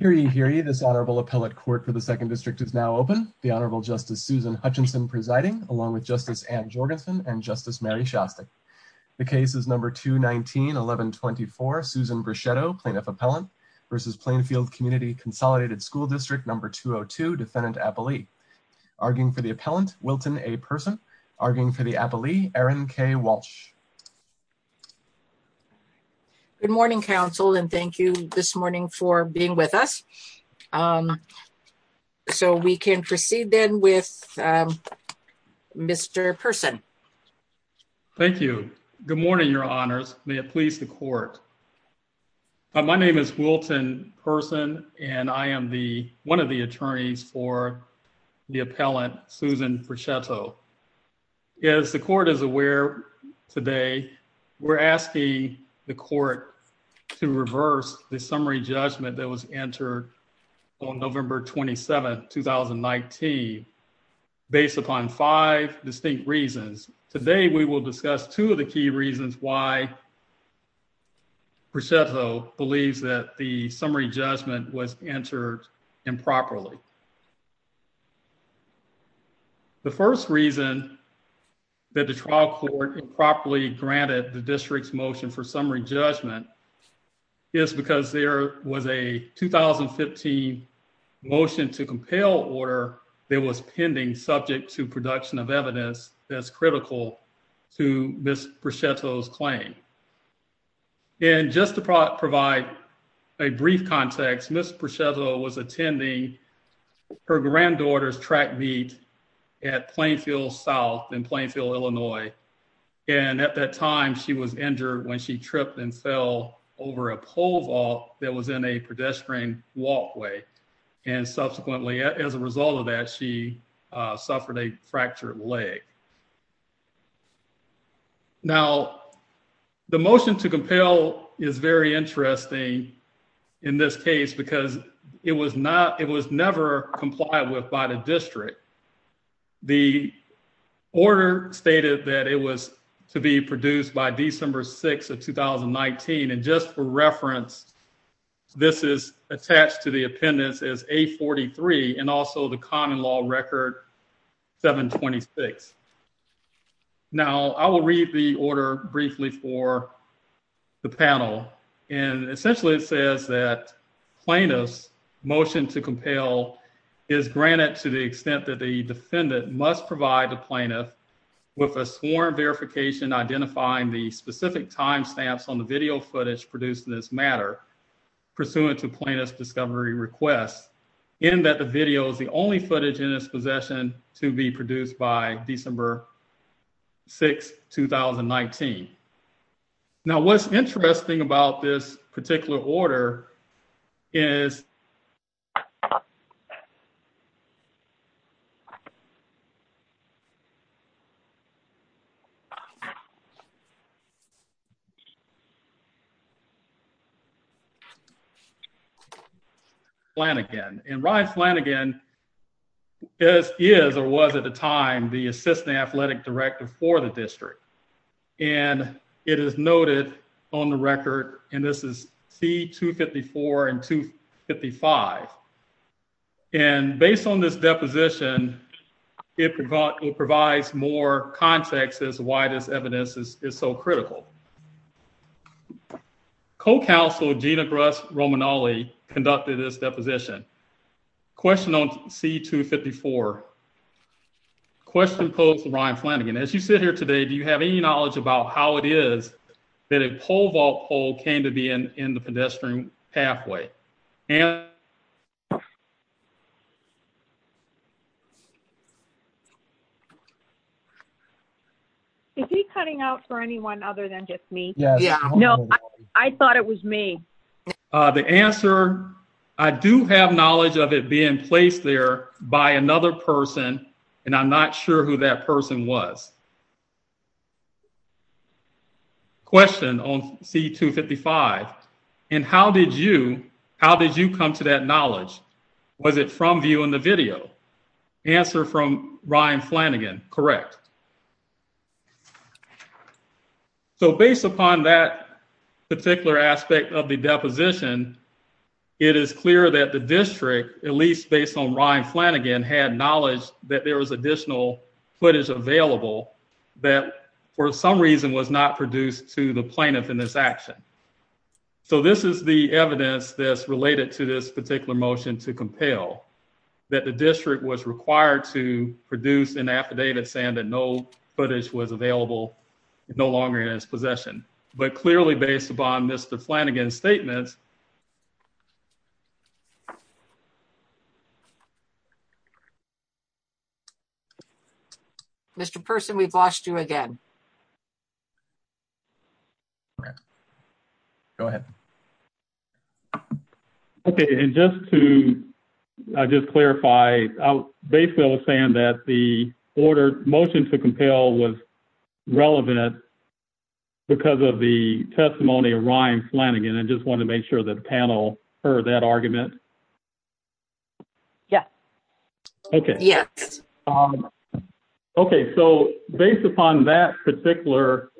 Hear ye, hear ye, this Honorable Appellate Court for the 2nd District is now open. The Honorable Justice Susan Hutchinson presiding, along with Justice Anne Jorgensen and Justice Mary Shostak. The case is No. 219-1124, Susan Brichetto, Plaintiff Appellant v. Plainfield Community Consolidated School District No. 202, Defendant Appellee. Arguing for the Appellant, Wilton A. Person. Arguing for the Appellee, Erin K. Walsh. Good morning, Council, and thank you this morning for being with us. So we can proceed then with Mr. Person. Thank you. May it please the Court. My name is Wilton Person, and I am the, one of the attorneys for the Appellant, Susan Brichetto. As the Court is aware today, we're asking the Court to reverse the summary judgment that was entered on November 27, 2019, based upon five distinct reasons. Today, we will discuss two of the key reasons why Brichetto believes that the summary judgment was entered improperly. The first reason that the trial court improperly granted the district's motion for summary judgment is because there was a 2015 motion to compel order that was pending subject to the district's motion, and that's critical to Ms. Brichetto's claim. And just to provide a brief context, Ms. Brichetto was attending her granddaughter's track meet at Plainfield South in Plainfield, Illinois, and at that time, she was injured when she tripped and fell over a pole vault that was in a pedestrian walkway, and subsequently, as a result of that, she suffered a fractured leg. Now, the motion to compel is very interesting in this case because it was not, it was never complied with by the district. The order stated that it was to be produced by December 6 of 2019, and just for reference, this is attached to the appendix as A43 and also the common law record 726. Now, I will read the order briefly for the panel, and essentially, it says that plaintiff's motion to compel is granted to the extent that the defendant must provide the plaintiff with a sworn verification identifying the specific timestamps on the video footage produced in this matter pursuant to plaintiff's discovery request, and that the video is the only footage in its possession to be produced by December 6, 2019. Now, what's interesting about this particular order is Flanagan, and Ryan Flanagan is, or was at the time, the assistant athletic director for the district, and it is noted on the record, and this is C254 and 255, and based on this deposition, it provides more context as to why this evidence is so critical. Co-counsel Gina Gross Romanale conducted this deposition. Question on C254, question posed to Ryan Flanagan, as you sit here today, do you have any knowledge about how it is that a pole vault pole came to be in the pedestrian pathway? Is he cutting out for anyone other than just me? No, I thought it was me. The answer, I do have knowledge of it being placed there by another person, and I'm not sure who that person was. Question on C255, and how did you, how did you come to that knowledge? Was it from viewing the video? Answer from Ryan Flanagan, correct. So based upon that particular aspect of the deposition, it is clear that the district, at least based on Ryan Flanagan, had knowledge that there was additional footage available that for some reason was not produced to the plaintiff in this action. So this is the evidence that's related to this particular motion to compel, that the district was required to produce an affidavit saying that no footage was available, no longer in its possession. But clearly based upon Mr. Flanagan's statements. Mr. Person, we've lost you again. Go ahead. Okay, and just to just clarify, basically I was saying that the order, motion to compel was relevant because of the testimony of Ryan Flanagan. I just want to make sure that the panel heard that argument. Yeah. Okay. Yes. Okay. So based upon that particular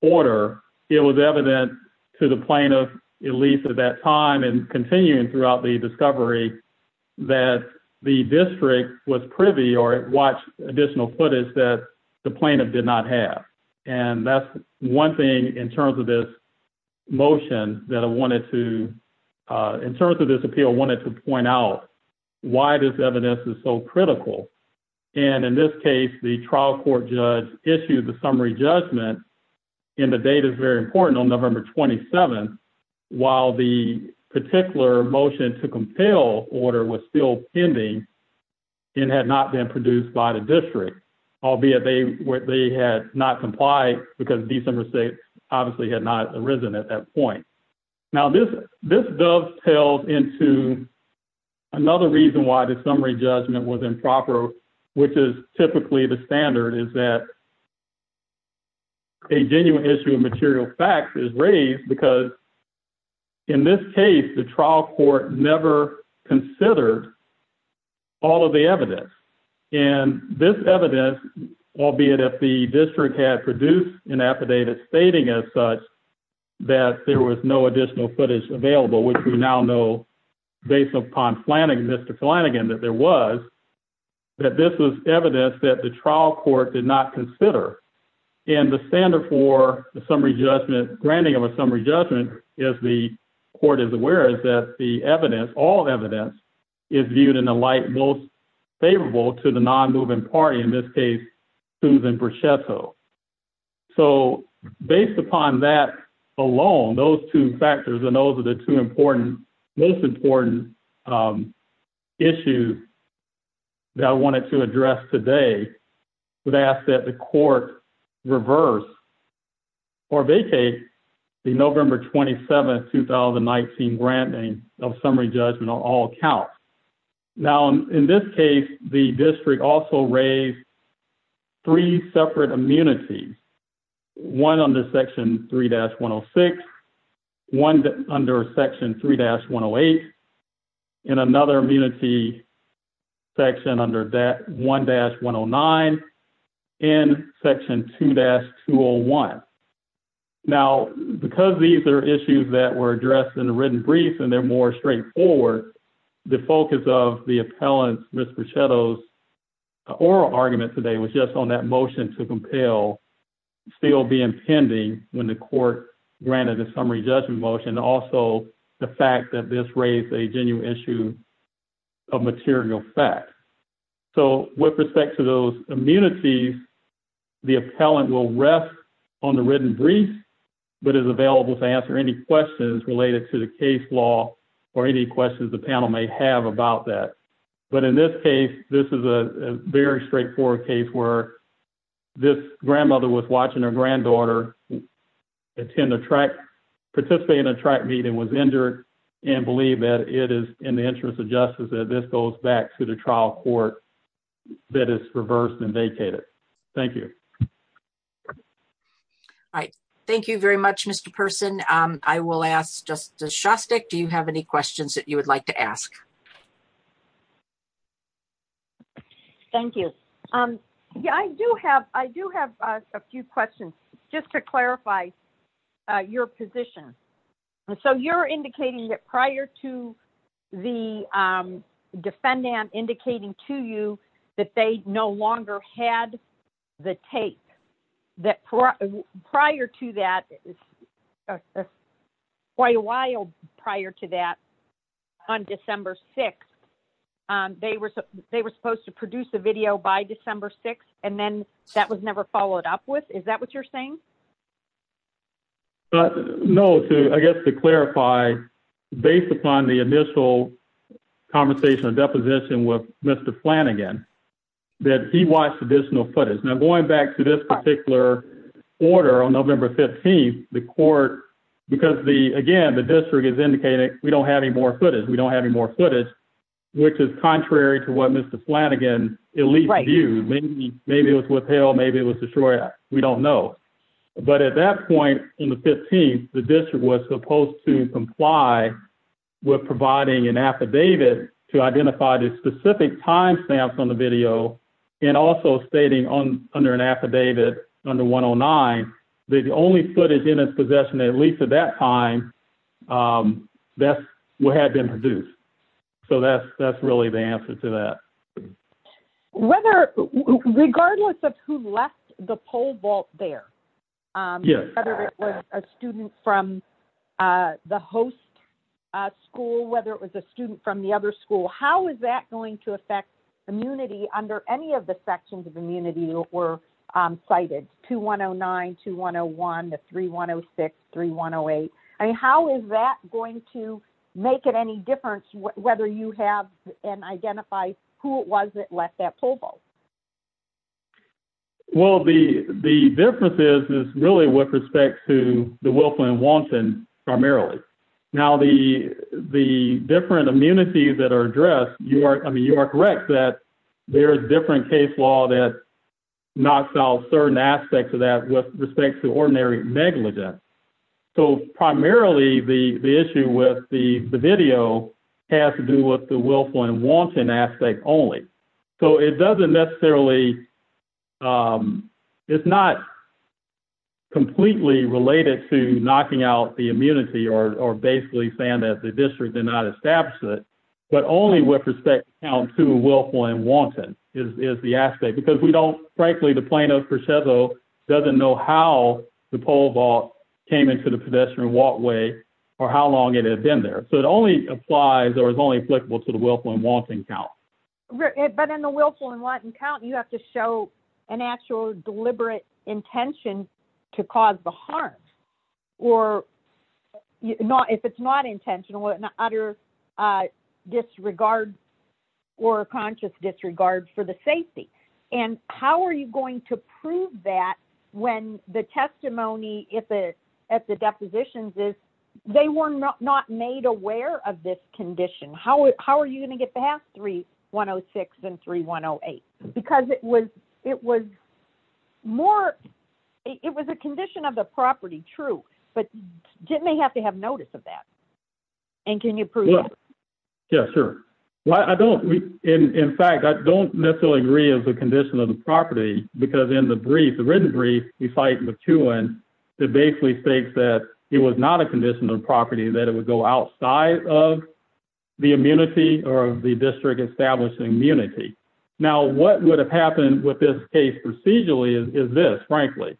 order, it was evident to the plaintiff, at least at that time and continuing throughout the discovery that the district was privy or watched additional footage that the plaintiff did not have. And that's one thing in terms of this motion that I wanted to, in terms of this appeal, I wanted to point out why this evidence is so critical. And in this case, the trial court judge issued the summary judgment. And the data is very important on November 27th. While the particular motion to compel order was still pending. It had not been produced by the district. I'll be a day where they had not complied because these numbers, they obviously had not arisen at that point. Now, this, this does tell into. Another reason why the summary judgment was improper, which is typically the standard. Is that. A genuine issue of material facts is raised because. In this case, the trial court never considered. All of the evidence and this evidence, albeit if the district had produced an affidavit stating as such. That there was no additional footage available, which we now know. Based upon planning, Mr. that there was. That this was evidence that the trial court did not consider. And the standard for the summary judgment granting of a summary judgment is the court is aware is that the evidence all evidence. Is viewed in a light most favorable to the non moving party in this case. Susan. So, based upon that alone, those 2 factors and those are the 2 important. Most important issue. That I wanted to address today would ask that the court. Reverse, or vacate the November 27th, 2019 branding of summary judgment on all accounts. Now, in this case, the district also raised. 3 separate immunity. 1 on the section 3 dash 106. 1 under section 3 dash 108. And another immunity section under that 1 dash 109. And section 2 dash 2 or 1. Now, because these are issues that were addressed in a written brief and they're more straightforward. The focus of the appellants, Mr. shadows. Or argument today was just on that motion to compel. Still be impending when the court granted the summary judgment motion also the fact that this raised a genuine issue. A material fact, so with respect to those immunity. The appellant will rest on the written brief. But is available to answer any questions related to the case law or any questions the panel may have about that. But in this case, this is a very straightforward case where. This grandmother was watching her granddaughter. Attend a track participate in a track meeting was injured. And believe that it is in the interest of justice that this goes back to the trial court. That is reversed and vacated. Thank you. All right, thank you very much. Mr. person. I will ask just the Shasta. Do you have any questions that you would like to ask? Thank you. Yeah, I do have I do have a few questions just to clarify. Your position, so you're indicating that prior to. The defendant indicating to you. That they no longer had the tape. That prior to that. Why a while prior to that. On December 6, they were, they were supposed to produce a video by December 6 and then that was never followed up with. Is that what you're saying? No, I guess to clarify. Based upon the initial conversation and deposition with Mr. plan again. That he watched additional footage now, going back to this particular order on November 15th, the court, because the again, the district is indicating we don't have any more footage. We don't have any more footage. Which is contrary to what Mr. again, maybe it was withheld. Maybe it was destroyed. We don't know. But at that point in the 15th, the district was supposed to comply. With providing an affidavit to identify the specific timestamps on the video. And also stating on under an affidavit under 109, the only footage in its possession, at least at that time. That's what had been produced. So, that's that's really the answer to that. Whether regardless of who left the pole vault there. Yes, a student from. The host school, whether it was a student from the other school, how is that going to affect. Immunity under any of the sections of immunity were cited to 109 to 101 to 31063108. I mean, how is that going to make it any difference? Whether you have and identify who it was that left that pole vault. Well, the, the differences is really with respect to the willful and wanton primarily. Now, the, the different immunities that are addressed, you are, I mean, you are correct that there are different case law that. Not solve certain aspects of that with respect to ordinary negligence. So, primarily the issue with the video has to do with the willful and wanton aspect only. So, it doesn't necessarily, it's not completely related to knocking out the immunity or basically saying that the district did not establish it. But only with respect to willful and wanton is the aspect because we don't frankly, the plaintiff doesn't know how the pole vault came into the pedestrian walkway or how long it had been there. So, it only applies or is only applicable to the willful and wanton count. But in the willful and wanton count, you have to show an actual deliberate intention to cause the harm. Or if it's not intentional, an utter disregard or a conscious disregard for the safety. And how are you going to prove that when the testimony at the depositions is they were not made aware of this condition? How are you going to get past 3106 and 3108? Because it was more, it was a condition of the property, true. But didn't they have to have notice of that? And can you prove that? Yes, sure. Well, I don't, in fact, I don't necessarily agree as a condition of the property. Because in the brief, the written brief, we cite McEwen that basically states that it was not a condition of the property, that it would go outside of the immunity or the district establishing immunity. Now, what would have happened with this case procedurally is this, frankly.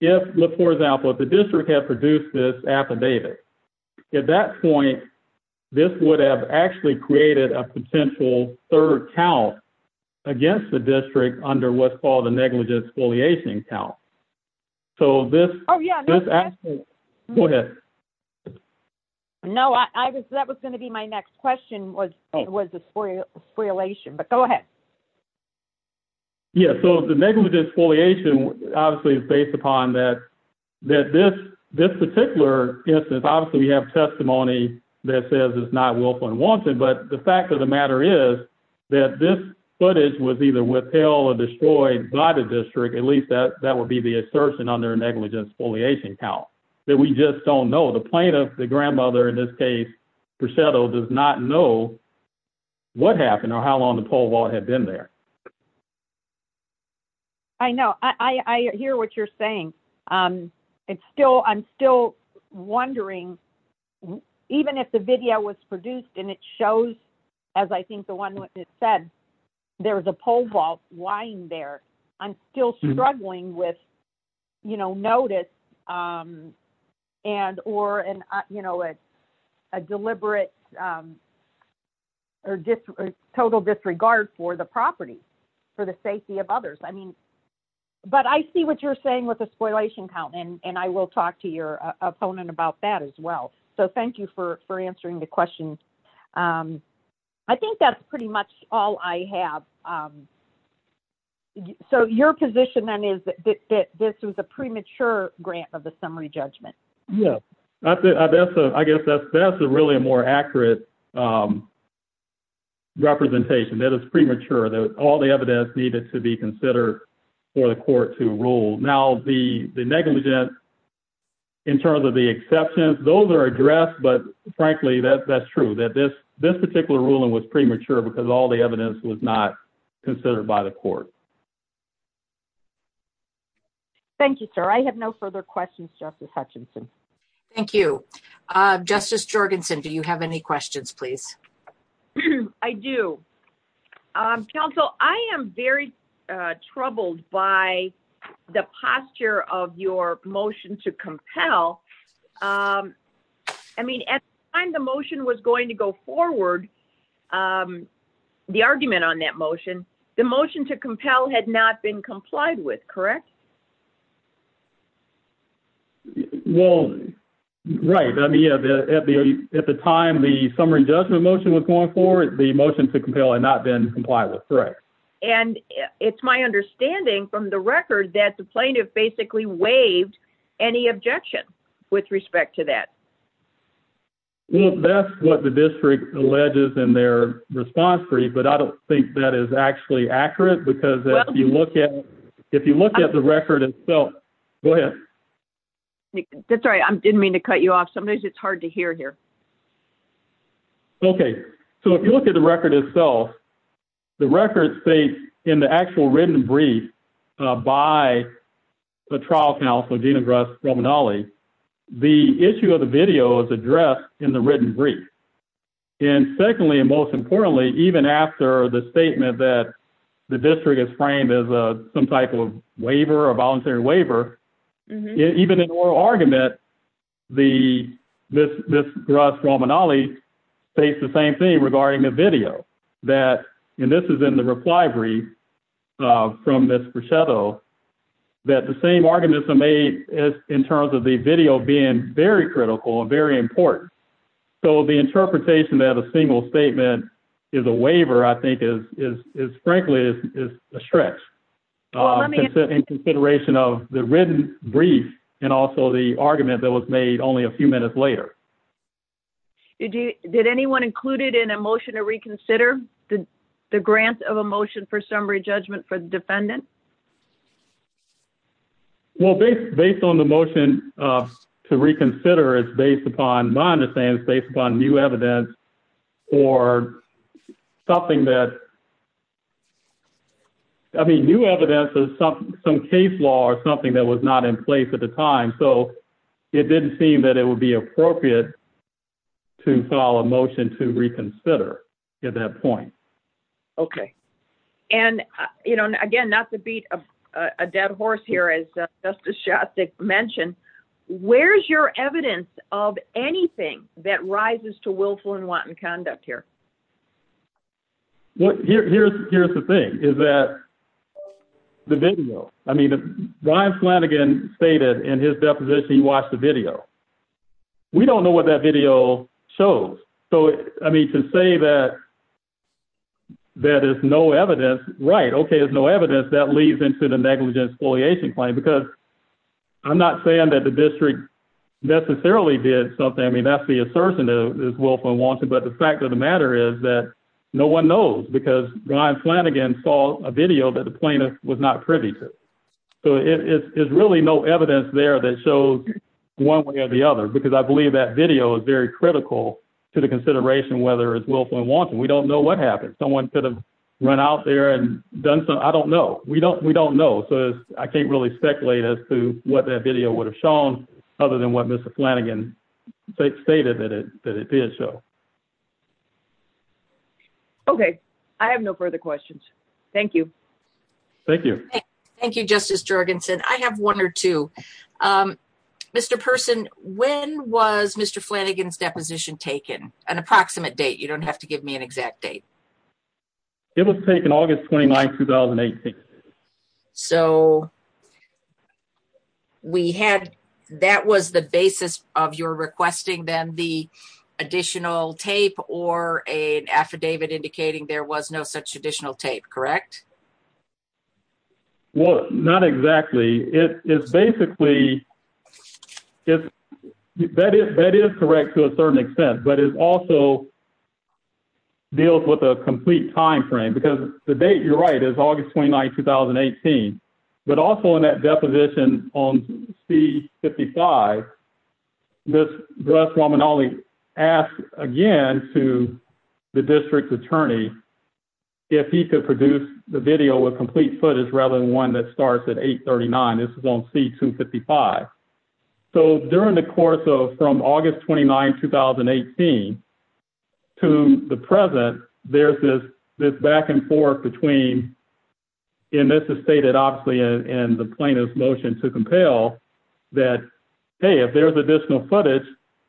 If, for example, if the district had produced this affidavit, at that point, this would have actually created a potential third count against the district under what's called a negligent exfoliation count. So, this. Oh, yeah. Go ahead. No, I was that was going to be my next question was, it was a free relation, but go ahead. Yeah, so the negligent exfoliation obviously is based upon that. That this this particular instance, obviously, we have testimony that says it's not willful and wanted, but the fact of the matter is. That this footage was either withheld or destroyed by the district, at least that that would be the assertion on their negligence foliation count that we just don't know the plaintiff the grandmother in this case. Percetto does not know what happened or how long the poll wall had been there. I know I hear what you're saying. It's still I'm still wondering, even if the video was produced and it shows, as I think the one that said, there was a pole vault lying there. I'm still struggling with, you know, notice and or and, you know, it's a deliberate or just total disregard for the property for the safety of others. I mean, but I see what you're saying with a spoilation count and I will talk to your opponent about that as well. So thank you for answering the question. I think that's pretty much all I have. So, your position then is that this was a premature grant of the summary judgment. Yeah, I guess that's that's a really a more accurate representation that is premature that all the evidence needed to be considered for the court to rule. Now, the negligence in terms of the exceptions, those are addressed. But frankly, that's true that this, this particular ruling was premature because all the evidence was not considered by the court. Thank you, sir. I have no further questions. Justice Hutchinson. Thank you, Justice Jorgensen. Do you have any questions, please? I do counsel. I am very troubled by the posture of your motion to compel. I mean, I'm the motion was going to go forward. The argument on that motion, the motion to compel had not been complied with. Correct. Well, right. I mean, at the time, the summary judgment motion was going forward. The motion to compel and not been complied with. Correct. And it's my understanding from the record that the plaintiff basically waived any objection with respect to that. Well, that's what the district alleges in their response for you. But I don't think that is actually accurate because if you look at if you look at the record itself. Go ahead. That's right. I didn't mean to cut you off. Sometimes it's hard to hear here. Okay, so if you look at the record itself, the record states in the actual written brief by the trial counsel, the issue of the video is addressed in the written brief. And secondly, and most importantly, even after the statement that the district is framed as a, some type of waiver or voluntary waiver, even an argument. The, this, this face the same thing regarding the video that, and this is in the reply from this shadow. That the same arguments are made in terms of the video being very critical and very important. So, the interpretation that a single statement is a waiver, I think, is, is, is frankly, is a stretch in consideration of the written brief and also the argument that was made only a few minutes later. Did you did anyone included in a motion to reconsider the, the grant of emotion for summary judgment for the defendant. Well, based based on the motion to reconsider is based upon my understanding is based upon new evidence or something that. I mean, new evidence is some, some case law or something that was not in place at the time. So it didn't seem that it would be appropriate to file a motion to reconsider at that point. Okay. And, you know, again, not to beat a dead horse here as just a shot that mentioned, where's your evidence of anything that rises to willful and wanton conduct here. Here's, here's the thing is that the video. I mean, Ryan Flanagan stated in his deposition, he watched the video. We don't know what that video shows. So, I mean, to say that. That is no evidence, right. Okay. There's no evidence that leads into the negligence foliation claim because I'm not saying that the district. Necessarily did something. I mean, that's the assertion is willful and wanton. But the fact of the matter is that no 1 knows, because Ryan Flanagan saw a video that the plaintiff was not privy to. So, it is really no evidence there that shows 1 way or the other, because I believe that video is very critical to the consideration, whether it's willful and wanton. We don't know what happened. Someone could have run out there and done some. I don't know. We don't, we don't know. So, I can't really speculate as to what that video would have shown other than what Mr Flanagan stated that it did show. Okay. I have no further questions. Thank you. Thank you. Thank you. Justice Jorgensen. I have 1 or 2. Mr. Person, when was Mr. Flanagan's deposition taken? An approximate date. You don't have to give me an exact date. It was taken August 29, 2018. So, we had, that was the basis of your requesting then the additional tape or an affidavit indicating there was no such additional tape, correct? Well, not exactly. It's basically, that is correct to a certain extent, but it also deals with a complete timeframe because the date, you're right, is August 29, 2018. But also, in that deposition on C-55, this, Russ Wamanali asked again to the district's attorney if he could produce the video with complete footage rather than one that starts at 839. This is on C-255. So, during the course of, from August 29, 2018 to the present, there's this back and forth between, and this is stated obviously in the plaintiff's motion to compel that, hey, if there's additional footage,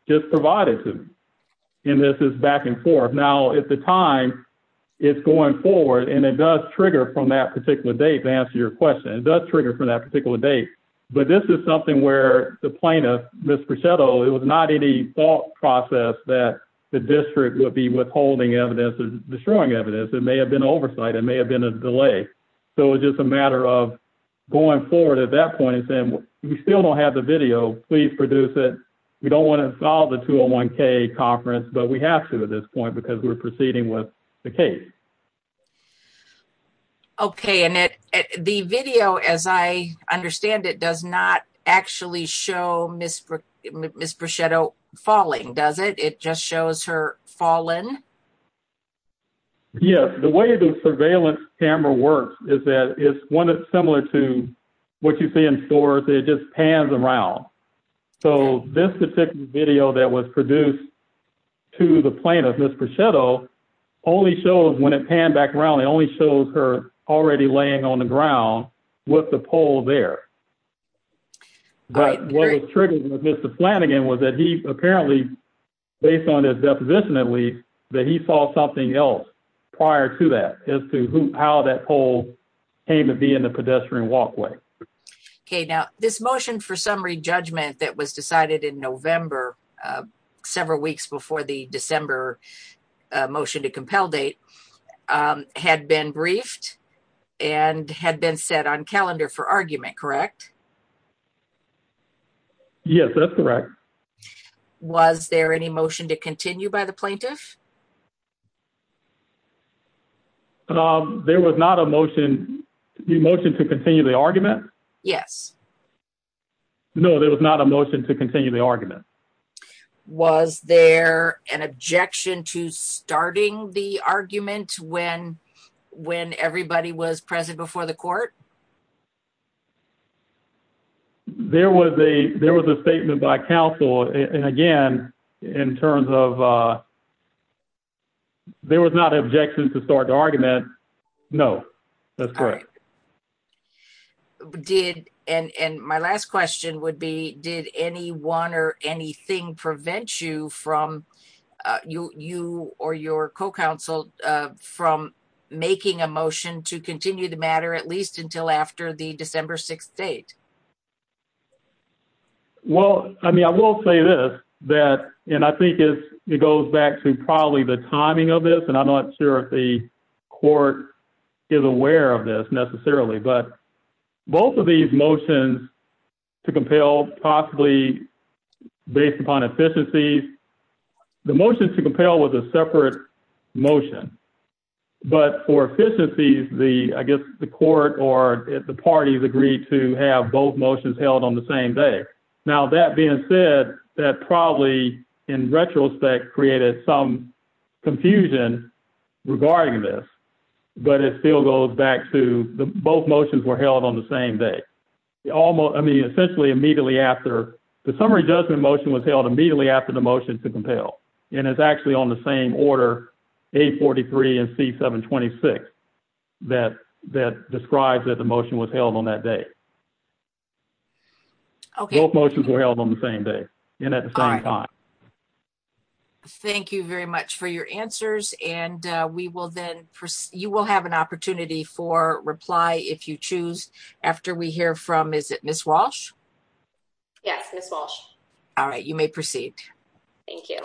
just provide it to me. And this is back and forth. Now, at the time, it's going forward, and it does trigger from that particular date to answer your question. It does trigger from that particular date. But this is something where the plaintiff, Ms. Brichetto, it was not any thought process that the district would be withholding evidence or destroying evidence. It may have been oversight. It may have been a delay. So, it's just a matter of going forward at that point and saying, we still don't have the video. Please produce it. We don't want to involve the 201K conference, but we have to at this point because we're proceeding with the case. Okay, and the video, as I understand it, does not actually show Ms. Brichetto falling, does it? It just shows her falling? Yes, the way the surveillance camera works is that it's similar to what you see in stores. It just pans around. So, this particular video that was produced to the plaintiff, Ms. Brichetto, only shows when it panned back around, it only shows her already laying on the ground with the pole there. But what was triggering with Mr. Flanagan was that he apparently, based on his deposition that week, that he saw something else prior to that as to how that pole came to be in the pedestrian walkway. Okay, now this motion for summary judgment that was decided in November, several weeks before the December motion to compel date, had been briefed and had been set on calendar for argument, correct? Yes, that's correct. Was there any motion to continue by the plaintiff? There was not a motion to continue the argument? Yes. No, there was not a motion to continue the argument. Was there an objection to starting the argument when everybody was present before the court? There was a statement by counsel, and again, in terms of, there was not an objection to start the argument. No, that's correct. And my last question would be, did anyone or anything prevent you or your co-counsel from making a motion to continue the matter at least until after the December 6th date? Well, I mean, I will say this, and I think it goes back to probably the timing of this, and I'm not sure if the court is aware of this necessarily, but both of these motions to compel, possibly based upon efficiencies, the motion to compel was a separate motion. But for efficiencies, I guess the court or the parties agreed to have both motions held on the same day. Now, that being said, that probably, in retrospect, created some confusion regarding this, but it still goes back to both motions were held on the same day. The summary judgment motion was held immediately after the motion to compel, and it's actually on the same order, A43 and C726, that describes that the motion was held on that day. Both motions were held on the same day and at the same time. Thank you very much for your answers, and you will have an opportunity for reply if you choose after we hear from, is it Ms. Walsh? Yes, Ms. Walsh. All right, you may proceed. Thank you.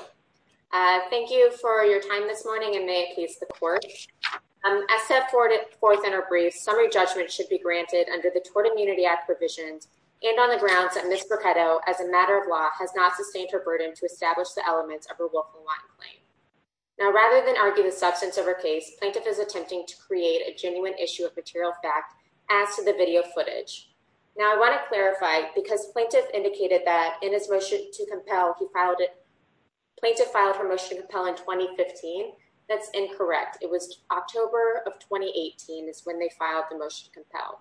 Thank you for your time this morning, and may it please the court. As set forth in her brief, summary judgment should be granted under the Tort Immunity Act provisions and on the grounds that Ms. Brocato, as a matter of law, has not sustained her burden to establish the elements of her Wolf and Watt claim. Now, rather than argue the substance of her case, plaintiff is attempting to create a genuine issue of material fact as to the video footage. Now, I want to clarify, because plaintiff indicated that in his motion to compel, he filed it, plaintiff filed her motion to compel in 2015. That's incorrect. It was October of 2018 is when they filed the motion to compel.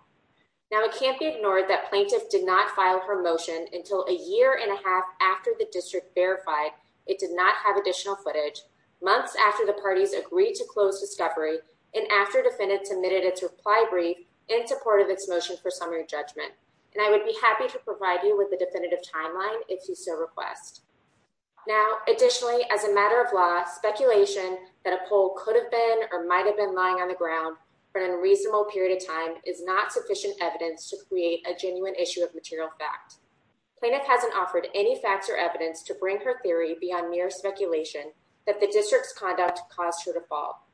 Now, it can't be ignored that plaintiff did not file her motion until a year and a half after the district verified it did not have additional footage, months after the parties agreed to close discovery, and after defendants submitted its reply brief in support of its motion for summary judgment. And I would be happy to provide you with the definitive timeline if you so request. Now, additionally, as a matter of law, speculation that a poll could have been or might have been lying on the ground for an unreasonable period of time is not sufficient evidence to create a genuine issue of material fact. Plaintiff hasn't offered any facts or evidence to bring her theory beyond mere speculation that the district's conduct caused her to fall.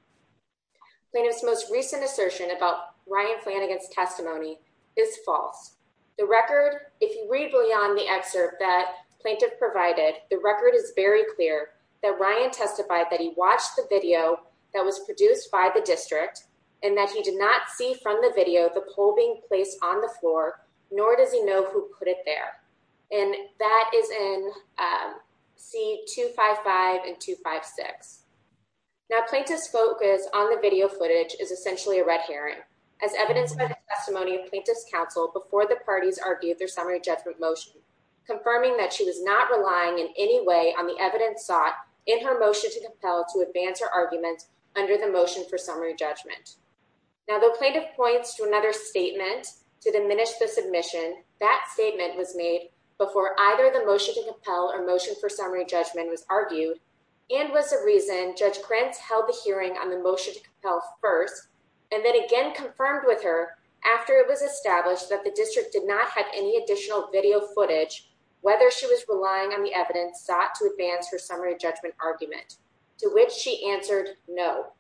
Plaintiff's most recent assertion about Ryan Flanagan's testimony is false. The record, if you read beyond the excerpt that plaintiff provided, the record is very clear that Ryan testified that he watched the video that was produced by the district, and that he did not see from the video the poll being placed on the floor, nor does he know who put it there. And that is in C255 and 256. Now, plaintiff's focus on the video footage is essentially a red herring, as evidenced by the testimony of plaintiff's counsel before the parties argued their summary judgment motion, confirming that she was not relying in any way on the evidence sought in her motion to compel to advance her argument under the motion for summary judgment. Now, though plaintiff points to another statement to diminish the submission, that statement was made before either the motion to compel or motion for summary judgment was argued, and was a reason Judge Krentz held the hearing on the motion to compel first, and then again confirmed with her after it was established that the district did not have any additional video footage, whether she was relying on the evidence sought to advance her summary judgment argument, to which she answered no.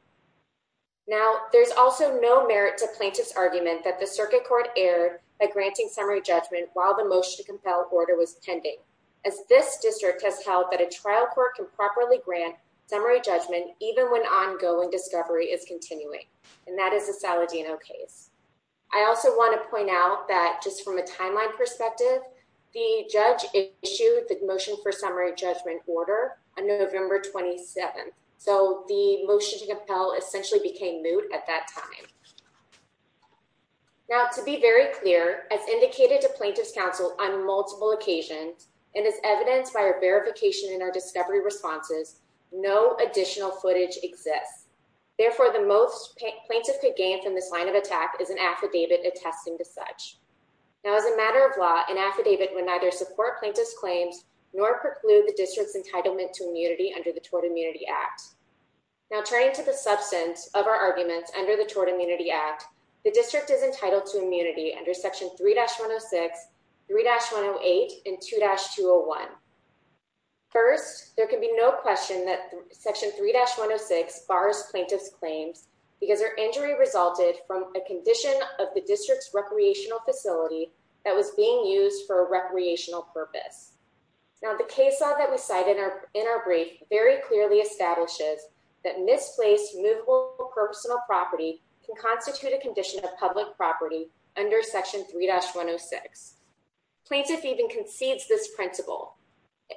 Now, there's also no merit to plaintiff's argument that the circuit court erred by granting summary judgment while the motion to compel order was pending, as this district has held that a trial court can properly grant summary judgment, even when ongoing discovery is continuing, and that is the Saladino case. I also want to point out that just from a timeline perspective, the judge issued the motion for summary judgment order on November 27th, so the motion to compel essentially became moot at that time. Now, to be very clear, as indicated to plaintiff's counsel on multiple occasions, and as evidenced by our verification in our discovery responses, no additional footage exists. Therefore, the most plaintiff could gain from this line of attack is an affidavit attesting to such. Now, as a matter of law, an affidavit would neither support plaintiff's claims nor preclude the district's entitlement to immunity under the Tort Immunity Act. Now, turning to the substance of our arguments under the Tort Immunity Act, the district is entitled to immunity under Section 3-106, 3-108, and 2-201. First, there can be no question that Section 3-106 bars plaintiff's claims because her injury resulted from a condition of the district's recreational facility that was being used for a recreational purpose. Now, the case law that we cite in our brief very clearly establishes that misplaced, removable personal property can constitute a condition of public property under Section 3-106. Plaintiff even concedes this principle,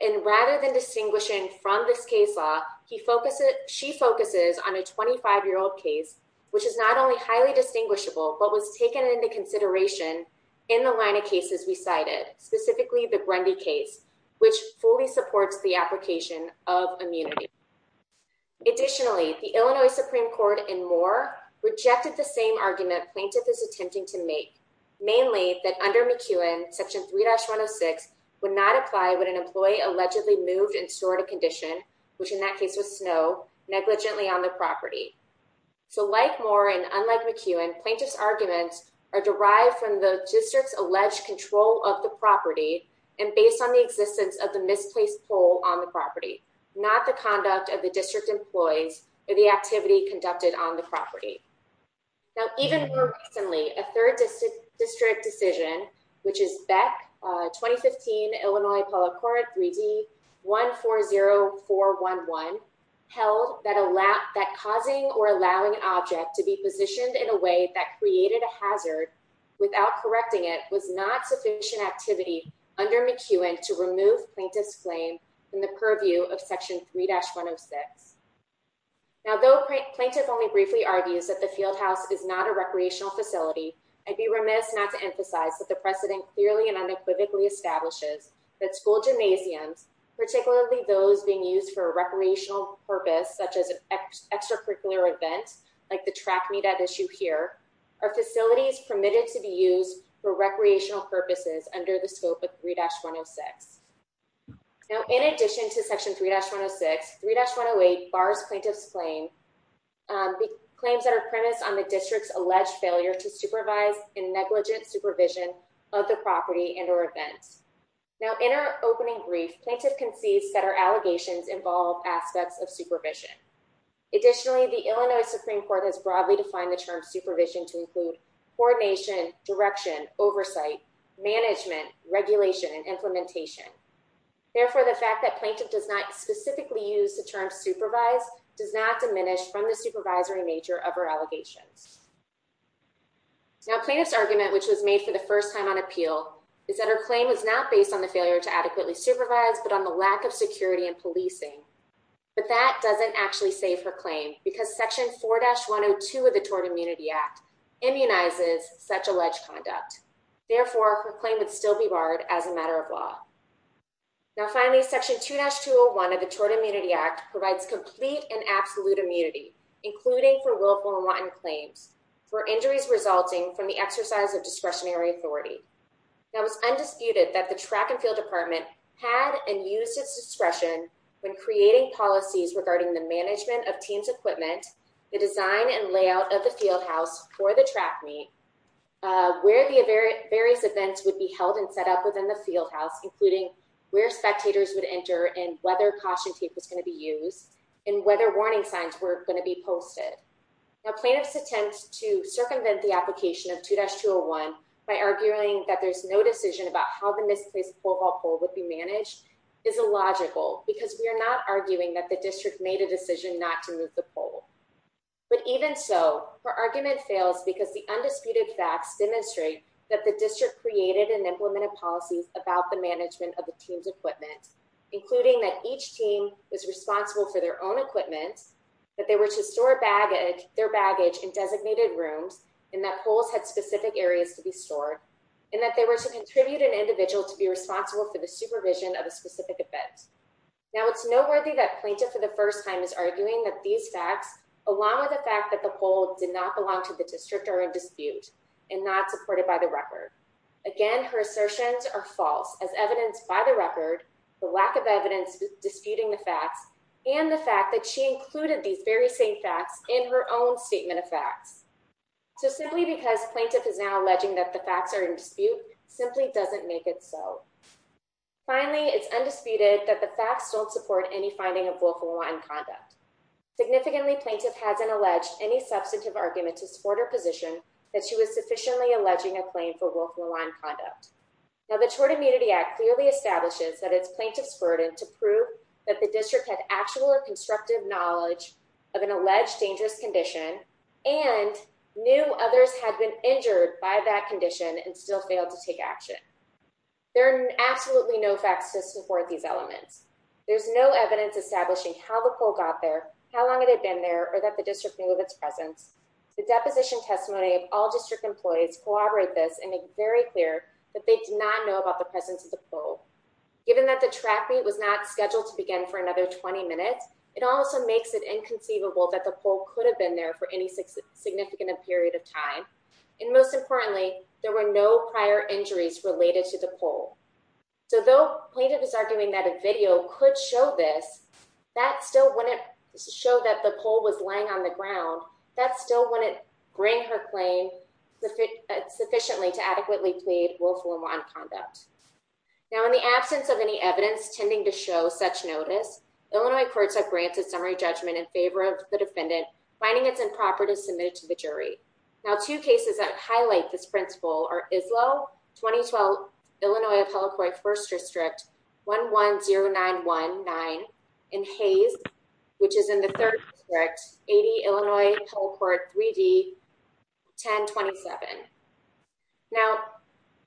and rather than distinguishing from this case law, she focuses on a 25-year-old case, which is not only highly distinguishable, but was taken into consideration in the line of cases we cited, specifically the Grundy case, which fully supports the application of immunity. Additionally, the Illinois Supreme Court in Moore rejected the same argument plaintiff is attempting to make, mainly that under McEwen, Section 3-106 would not apply when an employee allegedly moved and stored a condition, which in that case was snow, negligently on the property. So like Moore and unlike McEwen, plaintiff's arguments are derived from the district's alleged control of the property and based on the existence of the misplaced pole on the property, not the conduct of the district employees or the activity conducted on the property. Now, even more recently, a third district decision, which is BEC 2015 Illinois Policore 3D 140411, held that causing or allowing an object to be positioned in a way that created a hazard without correcting it was not sufficient activity under McEwen to remove plaintiff's claim in the purview of Section 3-106. Now, though plaintiff only briefly argues that the field house is not a recreational facility, I'd be remiss not to emphasize that the precedent clearly and unequivocally establishes that school gymnasiums, particularly those being used for recreational purpose, such as an extracurricular event, like the track meet at issue here, are facilities permitted to be used for recreational purposes under the scope of 3-106. Now, in addition to Section 3-106, 3-108 bars plaintiff's claims that are premised on the district's alleged failure to supervise and negligent supervision of the property and or events. Now, in our opening brief, plaintiff concedes that our allegations involve aspects of supervision. Additionally, the Illinois Supreme Court has broadly defined the term supervision to include coordination, direction, oversight, management, regulation, and implementation. Therefore, the fact that plaintiff does not specifically use the term supervise does not diminish from the supervisory nature of our allegations. Now, plaintiff's argument, which was made for the first time on appeal, is that her claim is not based on the failure to adequately supervise, but on the lack of security and policing. But that doesn't actually save her claim because Section 4-102 of the Tort Immunity Act immunizes such alleged conduct. Therefore, her claim would still be barred as a matter of law. Now, finally, Section 2-201 of the Tort Immunity Act provides complete and absolute immunity, including for willful and wanton claims, for injuries resulting from the exercise of discretionary authority. Now, it's undisputed that the Track and Field Department had and used its discretion when creating policies regarding the management of team's equipment, the design and layout of the field house for the track meet, where the various events would be held and set up within the field house, including where spectators would enter and whether caution tape was going to be used, and whether warning signs were going to be posted. Now, plaintiff's attempt to circumvent the application of 2-201 by arguing that there's no decision about how the misplaced pole vault pole would be managed is illogical because we are not arguing that the district made a decision not to move the pole. But even so, her argument fails because the undisputed facts demonstrate that the district created and implemented policies about the management of the team's equipment, including that each team was responsible for their own equipment, that they were to store their baggage in designated rooms, and that poles had specific areas to be stored, and that they were to contribute an individual to be responsible for the supervision of a specific event. Now, it's noteworthy that plaintiff for the first time is arguing that these facts, along with the fact that the pole did not belong to the district, are in dispute and not supported by the record. Again, her assertions are false, as evidenced by the record, the lack of evidence disputing the facts, and the fact that she included these very same facts in her own statement of facts. So simply because plaintiff is now alleging that the facts are in dispute simply doesn't make it so. Finally, it's undisputed that the facts don't support any finding of willful malign conduct. Significantly, plaintiff hasn't alleged any substantive argument to support her position that she was sufficiently alleging a claim for willful malign conduct. Now, the Tort Immunity Act clearly establishes that it's plaintiff's burden to prove that the district had actual or constructive knowledge of an alleged dangerous condition and knew others had been injured by that condition and still failed to take action. There are absolutely no facts to support these elements. There's no evidence establishing how the pole got there, how long it had been there, or that the district knew of its presence. The deposition testimony of all district employees corroborate this and make very clear that they did not know about the presence of the pole. Given that the track meet was not scheduled to begin for another 20 minutes, it also makes it inconceivable that the pole could have been there for any significant period of time. And most importantly, there were no prior injuries related to the pole. So though plaintiff is arguing that a video could show this, that still wouldn't show that the pole was lying on the ground. That still wouldn't bring her claim sufficiently to adequately plead willful malign conduct. Now, in the absence of any evidence tending to show such notice, Illinois courts have granted summary judgment in favor of the defendant finding it's improper to submit it to the jury. The two cases that highlight this principle are Islo, 2012, Illinois Appellate Court First District, 110919, and Hayes, which is in the third district, 80 Illinois Appellate Court 3D, 1027. Now,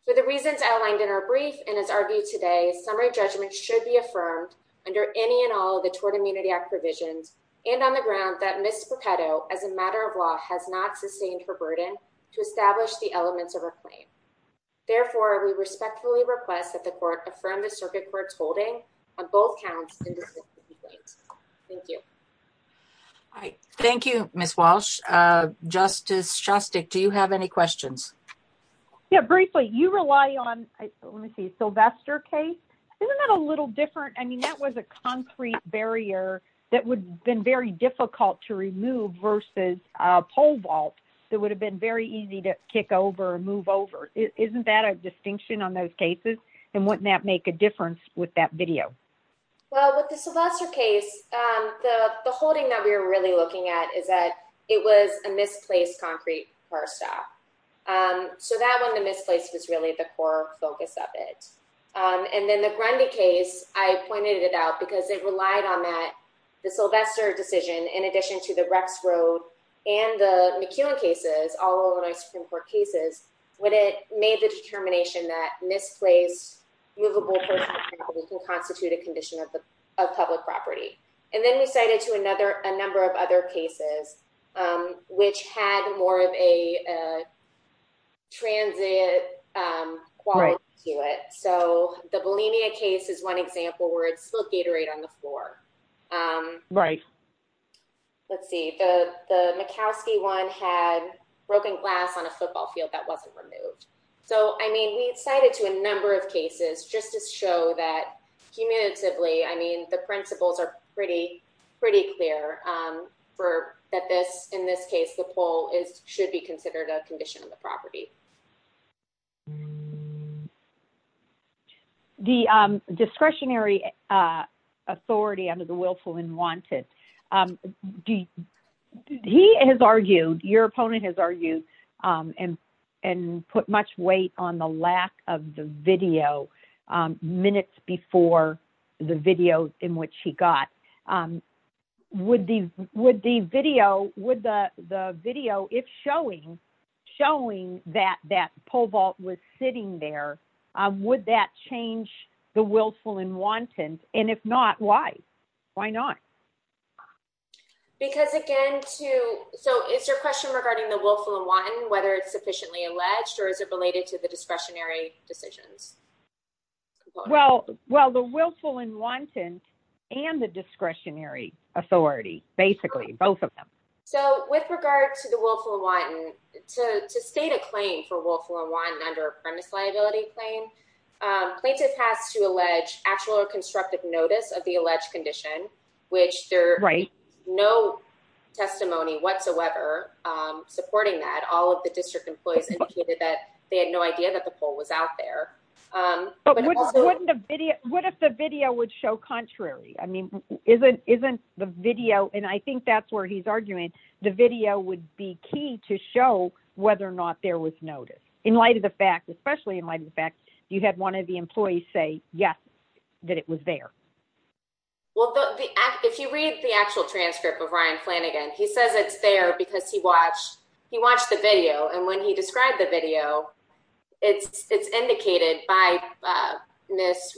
for the reasons outlined in our brief and as argued today, summary judgment should be affirmed under any and all of the Tort Immunity Act provisions, and on the ground that Ms. Pepeto, as a matter of law, has not sustained her burden to establish the elements of her claim. Therefore, we respectfully request that the court affirm the circuit court's holding on both counts in this case. Thank you. Thank you, Ms. Walsh. Justice Shostak, do you have any questions? Yeah, briefly, you rely on, let me see, Sylvester case. Isn't that a little different? I mean, that was a concrete barrier that would have been very difficult to remove versus a pole vault that would have been very easy to kick over and move over. Isn't that a distinction on those cases? And wouldn't that make a difference with that video? Well, with the Sylvester case, the holding that we were really looking at is that it was a misplaced concrete bar stop. So that one, the misplaced was really the core focus of it. And then the Grundy case, I pointed it out because it relied on that, the Sylvester decision, in addition to the Rex Road and the McEwen cases, all Illinois Supreme Court cases, when it made the determination that misplaced movable personal property can constitute a condition of public property. And then we cited to a number of other cases, which had more of a transit quality to it. So the Bulimia case is one example where it's still Gatorade on the floor. Right. Let's see, the the McKowsky one had broken glass on a football field that wasn't removed. So, I mean, we cited to a number of cases just to show that cumulatively, I mean, the principles are pretty, pretty clear for that. This, in this case, the pole is should be considered a condition of the property. The discretionary authority under the willful and wanted, he has argued, your opponent has argued and put much weight on the lack of the video minutes before the video in which he got. Would the would the video with the video, if showing, showing that that pole vault was sitting there, would that change the willful and wanton? And if not, why? Why not? Because, again, to so is your question regarding the willful and wanton, whether it's sufficiently alleged or is it related to the discretionary decisions? Well, well, the willful and wanton and the discretionary authority, basically both of them. So, with regard to the willful and wanton to state a claim for willful and wanton under premise liability claim plaintiff has to allege actual or constructive notice of the alleged condition, which they're right. No testimony whatsoever supporting that all of the district employees indicated that they had no idea that the poll was out there. What if the video would show contrary? I mean, isn't isn't the video and I think that's where he's arguing the video would be key to show whether or not there was notice in light of the fact, especially in light of the fact you had one of the employees say, yes, that it was there. Well, if you read the actual transcript of Ryan Flanagan, he says it's there because he watched he watched the video, and when he described the video, it's it's indicated by this.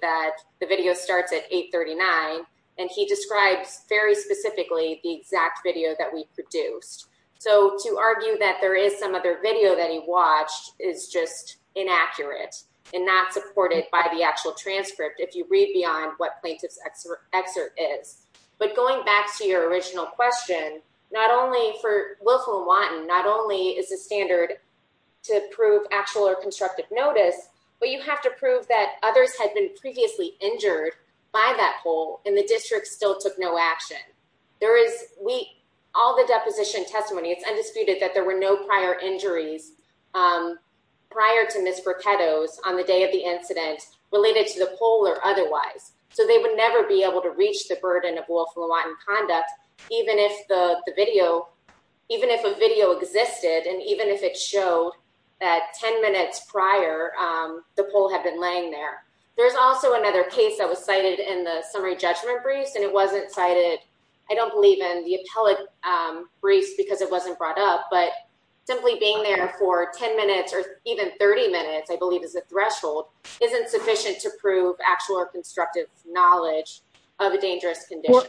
That the video starts at eight thirty nine, and he describes very specifically the exact video that we produced. So, to argue that there is some other video that he watched is just inaccurate and not supported by the actual transcript. If you read beyond what plaintiff's excerpt is, but going back to your original question, not only for willful wanton, not only is the standard. To prove actual or constructive notice, but you have to prove that others had been previously injured by that hole in the district still took no action. There is we, all the deposition testimony, it's undisputed that there were no prior injuries. Prior to miss on the day of the incident related to the polar otherwise, so they would never be able to reach the burden of conduct, even if the video. Even if a video existed, and even if it showed that ten minutes prior, the poll had been laying there. There's also another case that was cited in the summary judgment briefs and it wasn't cited. I don't believe in the appellate briefs because it wasn't brought up, but simply being there for ten minutes or even thirty minutes, I believe, is a threshold isn't sufficient to prove actual or constructive knowledge of a dangerous condition.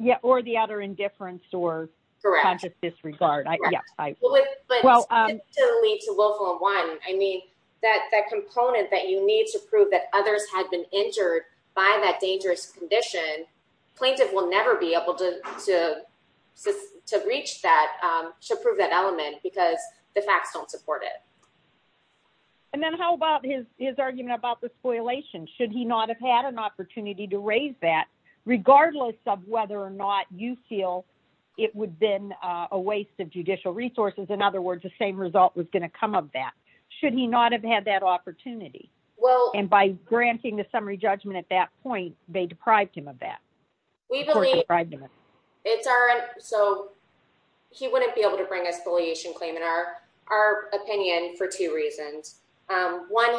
Yeah, or the other indifference or. Correct. Disregard. Yes, I. Will lead to willful one. I mean, that that component that you need to prove that others had been injured by that dangerous condition plaintiff will never be able to to to reach that to prove that element because the facts don't support it. And then how about his his argument about the spoliation should he not have had an opportunity to raise that regardless of whether or not you feel it would been a waste of judicial resources. In other words, the same result was going to come up that should he not have had that opportunity. Well, and by granting the summary judgment at that point, they deprived him of that. It's our so he wouldn't be able to bring a spoliation claim in our, our opinion for two reasons. One,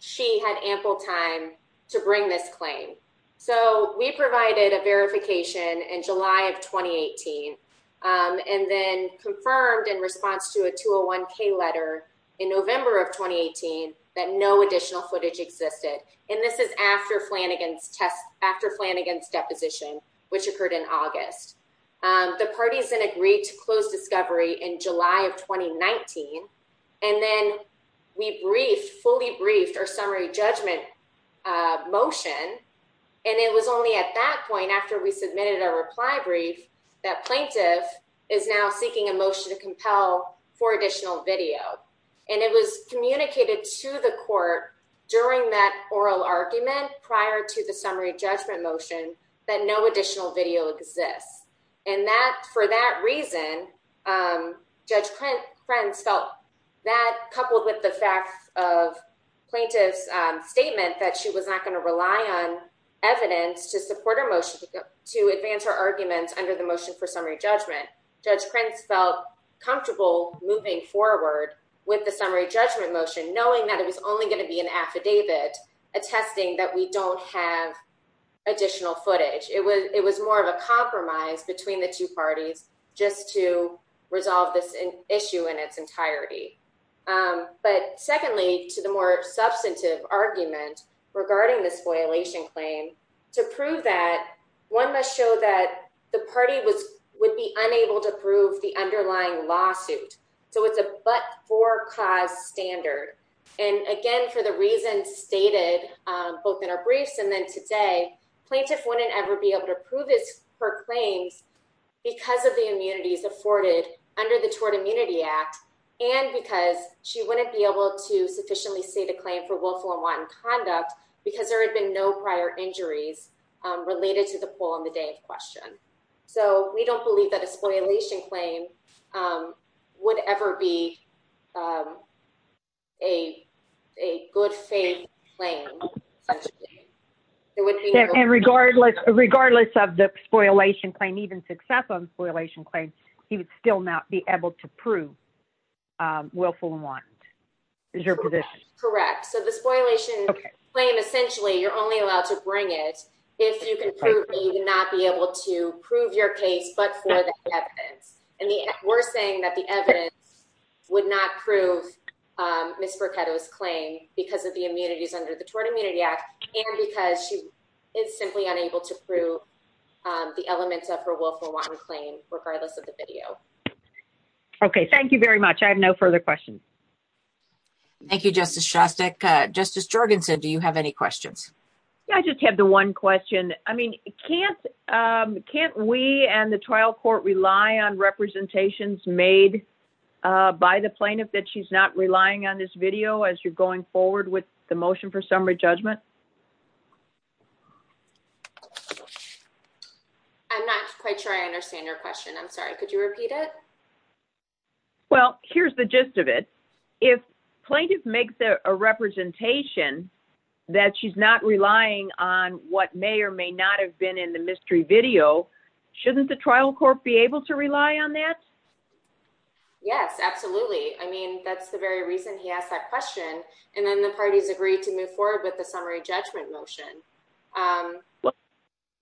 she had ample time to bring this claim. So we provided a verification in July of 2018 and then confirmed in response to a tool one K letter in November of 2018 that no additional footage existed. And this is after Flanagan's test after Flanagan's deposition, which occurred in August. The parties and agreed to close discovery in July of 2019 and then we briefed fully briefed or summary judgment motion. And it was only at that point after we submitted a reply brief that plaintiff is now seeking a motion to compel for additional video. And it was communicated to the court during that oral argument prior to the summary judgment motion that no additional video exists. And that for that reason, Judge Prince felt that coupled with the fact of plaintiff's statement that she was not going to rely on evidence to support her motion to advance her arguments under the motion for summary judgment. Judge Prince felt comfortable moving forward with the summary judgment motion, knowing that it was only going to be an affidavit attesting that we don't have additional footage. It was it was more of a compromise between the two parties just to resolve this issue in its entirety. But secondly, to the more substantive argument regarding this violation claim to prove that one must show that the party was would be unable to prove the underlying lawsuit. So it's a but for cause standard. And again, for the reason stated both in our briefs and then today plaintiff wouldn't ever be able to prove this for claims because of the immunities afforded under the Tort Immunity Act. And because she wouldn't be able to sufficiently see the claim for willful unwanted conduct because there had been no prior injuries related to the poll on the day of question. So we don't believe that a spoilation claim would ever be a a good faith claim. And regardless, regardless of the spoilation claim, even success on spoilation claims, he would still not be able to prove willful unwanted is your position. Correct. So the spoilation claim, essentially, you're only allowed to bring it if you can not be able to prove your case. But for the evidence, and we're saying that the evidence would not prove Mr. Kato's claim because of the immunities under the Tort Immunity Act. And because she is simply unable to prove the elements of her willful claim, regardless of the video. Okay, thank you very much. I have no further questions. Thank you, Justice Shostak. Justice Jorgensen, do you have any questions? I just have the one question. I mean, can't, can't we and the trial court rely on representations made by the plaintiff that she's not relying on this video as you're going forward with the motion for summary judgment? I'm not quite sure I understand your question. I'm sorry. Could you repeat it? Well, here's the gist of it. If plaintiff makes a representation that she's not relying on what may or may not have been in the mystery video, shouldn't the trial court be able to rely on that? Yes, absolutely. I mean, that's the very reason he asked that question. And then the parties agreed to move forward with the summary judgment motion.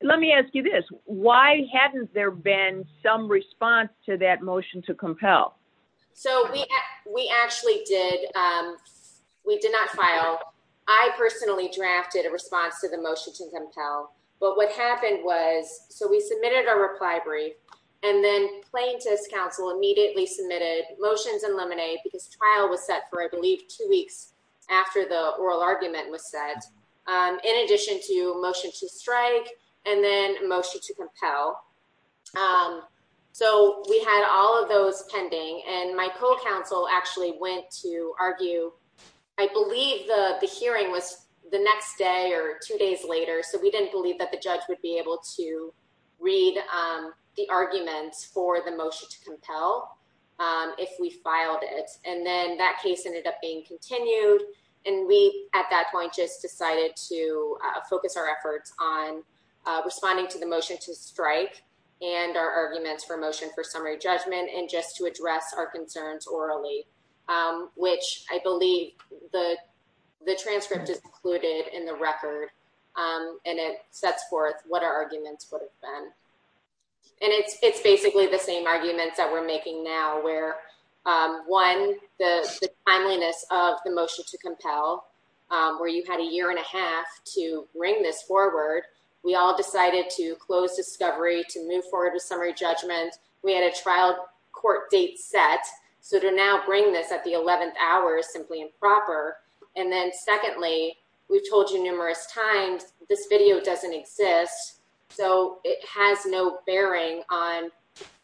Let me ask you this. Why hadn't there been some response to that motion to compel? So we, we actually did. We did not file. I personally drafted a response to the motion to compel. But what happened was, so we submitted our reply brief. And then plaintiff's counsel immediately submitted motions and lemonade because trial was set for, I believe, two weeks after the oral argument was set in addition to motion to strike and then motion to compel. So we had all of those pending and my co-counsel actually went to argue. I believe the hearing was the next day or two days later. So we didn't believe that the judge would be able to read the arguments for the motion to compel if we filed it. And then that case ended up being continued. And we, at that point, just decided to focus our efforts on responding to the motion to strike and our arguments for motion for summary judgment. And just to address our concerns orally, which I believe the, the transcript is included in the record and it sets forth what our arguments would have been. And it's, it's basically the same arguments that we're making now where one, the timeliness of the motion to compel, where you had a year and a half to bring this forward. We all decided to close discovery to move forward with summary judgment. We had a trial court date set. So to now bring this at the 11th hour is simply improper. And then secondly, we've told you numerous times, this video doesn't exist. So it has no bearing on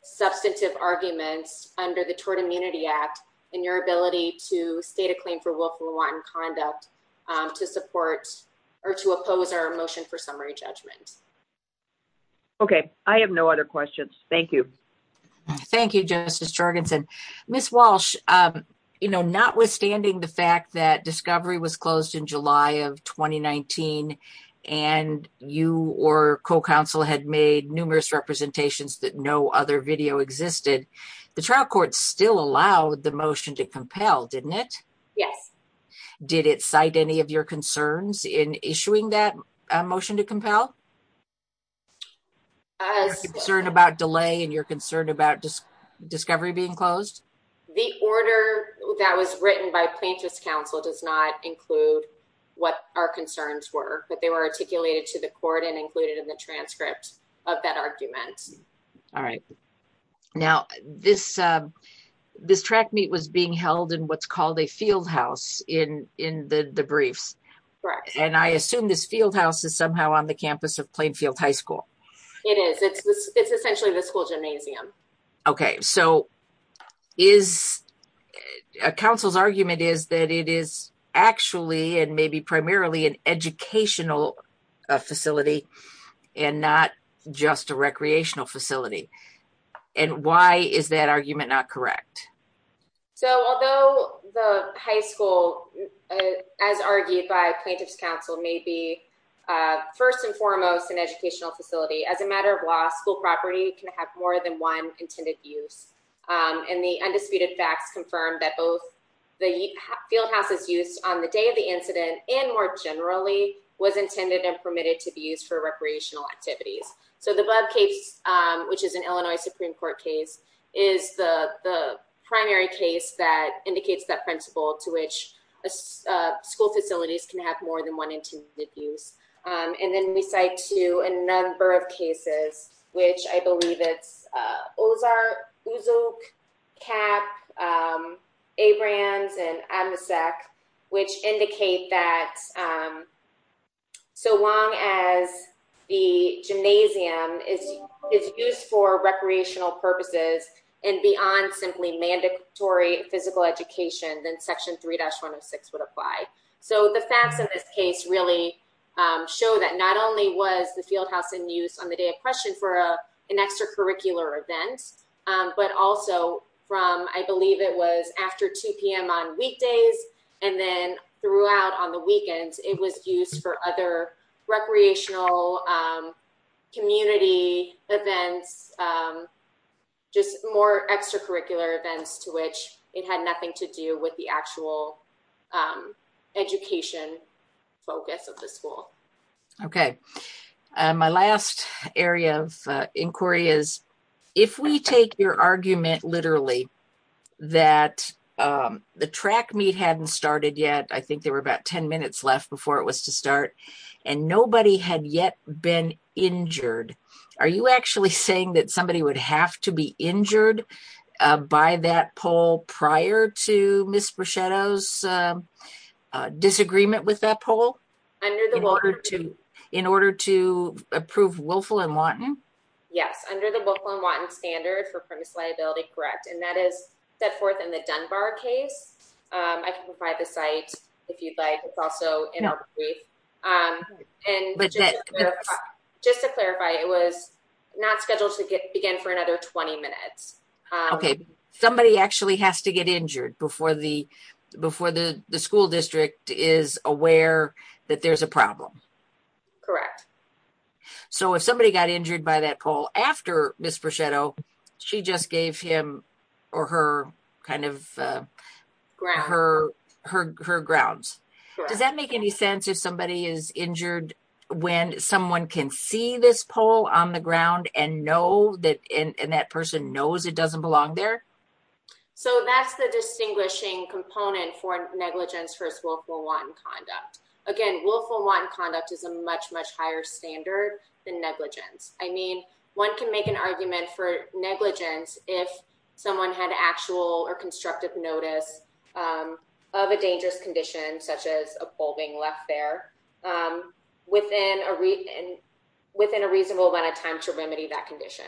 substantive arguments under the Tort Immunity Act and your ability to state a claim for willful wanton conduct to support or to oppose our motion for summary judgment. Okay. I have no other questions. Thank you. Thank you, Justice Jorgensen. Ms. Walsh, you know, notwithstanding the fact that discovery was closed in July of 2019 and you or co-counsel had made numerous representations that no other video existed, the trial court still allowed the motion to compel, didn't it? Yes. Did it cite any of your concerns in issuing that motion to compel? As... You're concerned about delay and you're concerned about discovery being closed? The order that was written by plaintiff's counsel does not include what our concerns were, but they were articulated to the court and included in the transcript of that argument. All right. Now, this track meet was being held in what's called a field house in the briefs. Correct. And I assume this field house is somehow on the campus of Plainfield High School. It is. It's essentially the school gymnasium. Okay. So is... Counsel's argument is that it is actually and maybe primarily an educational facility and not just a recreational facility. And why is that argument not correct? So although the high school, as argued by plaintiff's counsel, may be first and foremost an educational facility, as a matter of law, school property can have more than one intended use. And the undisputed facts confirm that both the field house's use on the day of the incident and more generally was intended and permitted to be used for recreational activities. So the above case, which is an Illinois Supreme Court case, is the primary case that indicates that principle to which school facilities can have more than one intended use. And then we cite to a number of cases, which I believe it's Ozark, Kap, Abrams, and Amasek, which indicate that so long as the gymnasium is used for recreational purposes and beyond simply mandatory physical education, then section 3-106 would apply. So the facts of this case really show that not only was the field house in use on the day of question for an extracurricular event, but also from, I believe it was after 2 p.m. on weekdays. And then throughout on the weekends, it was used for other recreational community events, just more extracurricular events to which it had nothing to do with the actual education focus of the school. Okay. My last area of inquiry is, if we take your argument literally that the track meet hadn't started yet, I think there were about 10 minutes left before it was to start, and nobody had yet been injured, are you actually saying that somebody would have to be injured by that poll prior to Ms. Bruschetto's disagreement with that poll? In order to approve Wilfill and Watton? Yes, under the Wilfill and Watton standard for premise liability, correct. And that is set forth in the Dunbar case. I can provide the site if you'd like. It's also in our brief. And just to clarify, it was not scheduled to begin for another 20 minutes. Okay. Somebody actually has to get injured before the school district is aware that there's a problem. Correct. So if somebody got injured by that poll after Ms. Bruschetto, she just gave him or her grounds. Does that make any sense if somebody is injured when someone can see this poll on the ground and that person knows it doesn't belong there? So that's the distinguishing component for negligence versus Wilfill and Watton conduct. Again, Wilfill and Watton conduct is a much, much higher standard than negligence. I mean, one can make an argument for negligence if someone had actual or constructive notice of a dangerous condition, such as a poll being left there, within a reasonable amount of time to remedy that condition.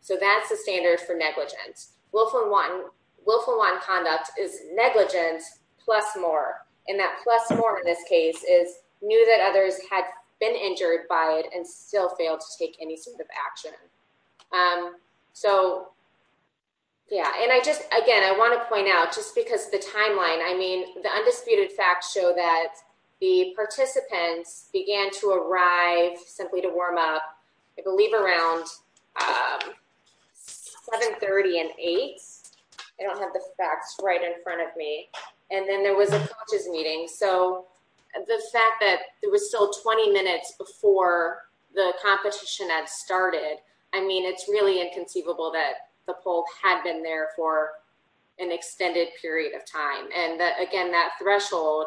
So that's the standard for negligence. Wilfill and Watton conduct is negligence plus more. And that plus more in this case is knew that others had been injured by it and still failed to take any sort of action. So, yeah, and I just again, I want to point out just because the timeline, I mean, the undisputed facts show that the participants began to arrive simply to warm up. I believe around seven thirty and eight. I don't have the facts right in front of me. And then there was a meeting. So the fact that there was still twenty minutes before the competition had started. I mean, it's really inconceivable that the poll had been there for an extended period of time. And again, that threshold,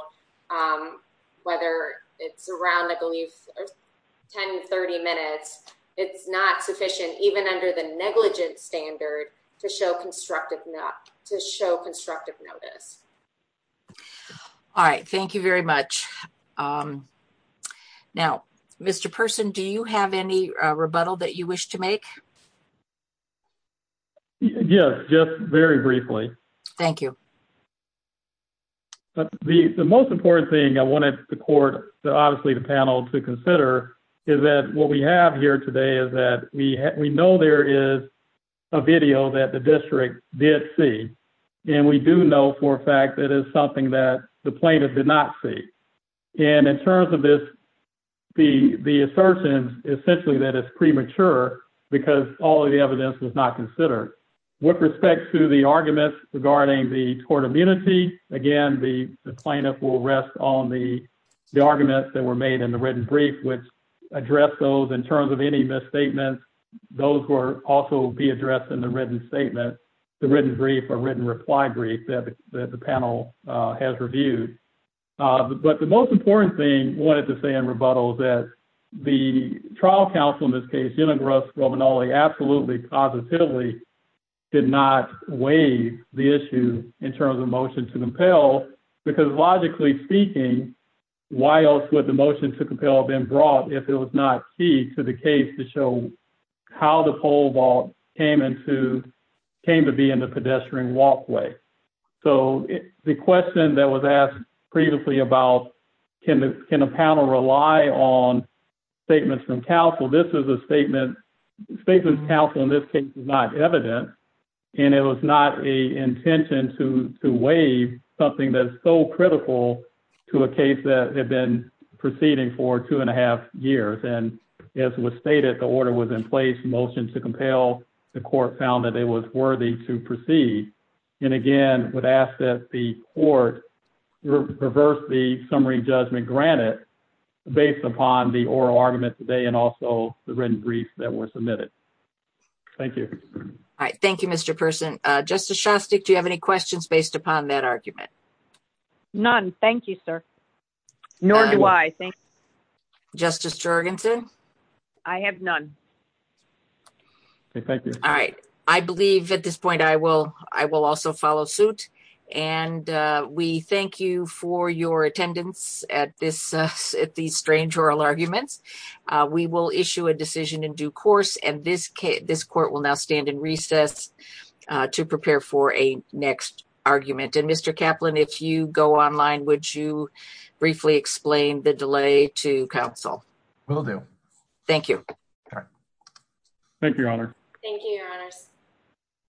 whether it's around, I believe, ten, thirty minutes, it's not sufficient, even under the negligence standard to show constructive not to show constructive notice. All right, thank you very much. Now, Mr. person, do you have any rebuttal that you wish to make? Yes, just very briefly. Thank you. The most important thing I wanted the court, obviously, the panel to consider is that what we have here today is that we know there is a video that the district did see. And we do know for a fact that is something that the plaintiff did not see. And in terms of this, the assertion essentially that is premature because all of the evidence was not considered. With respect to the arguments regarding the court immunity again, the plaintiff will rest on the arguments that were made in the written brief, which address those in terms of any misstatements. Those were also be addressed in the written statement, the written brief or written reply brief that the panel has reviewed. But the most important thing I wanted to say in rebuttal is that the trial counsel, in this case, absolutely positively did not weigh the issue in terms of motion to compel. Because logically speaking, why else would the motion to compel been brought if it was not key to the case to show how the pole vault came into came to be in the pedestrian walkway. So the question that was asked previously about, can a panel rely on statements from counsel? This is a statement statement counsel in this case is not evident, and it was not a intention to weigh something that is so critical to a case that had been proceeding for two and a half years. And as was stated, the order was in place motion to compel the court found that it was worthy to proceed. And again, would ask that the court reverse the summary judgment granted based upon the oral argument today and also the written brief that was submitted. Thank you. All right. Thank you. Mr. Person justice. Do you have any questions based upon that argument? None. Thank you, sir. Nor do I think justice Jorgensen. I have none. Thank you. All right. I believe at this point I will, I will also follow suit. And we thank you for your attendance at this. At the strange oral arguments, we will issue a decision in due course. And this, this court will now stand in recess to prepare for a next argument. And Mr. Kaplan, if you go online, would you briefly explain the delay to counsel? Will do. Thank you. Thank you. Thank you.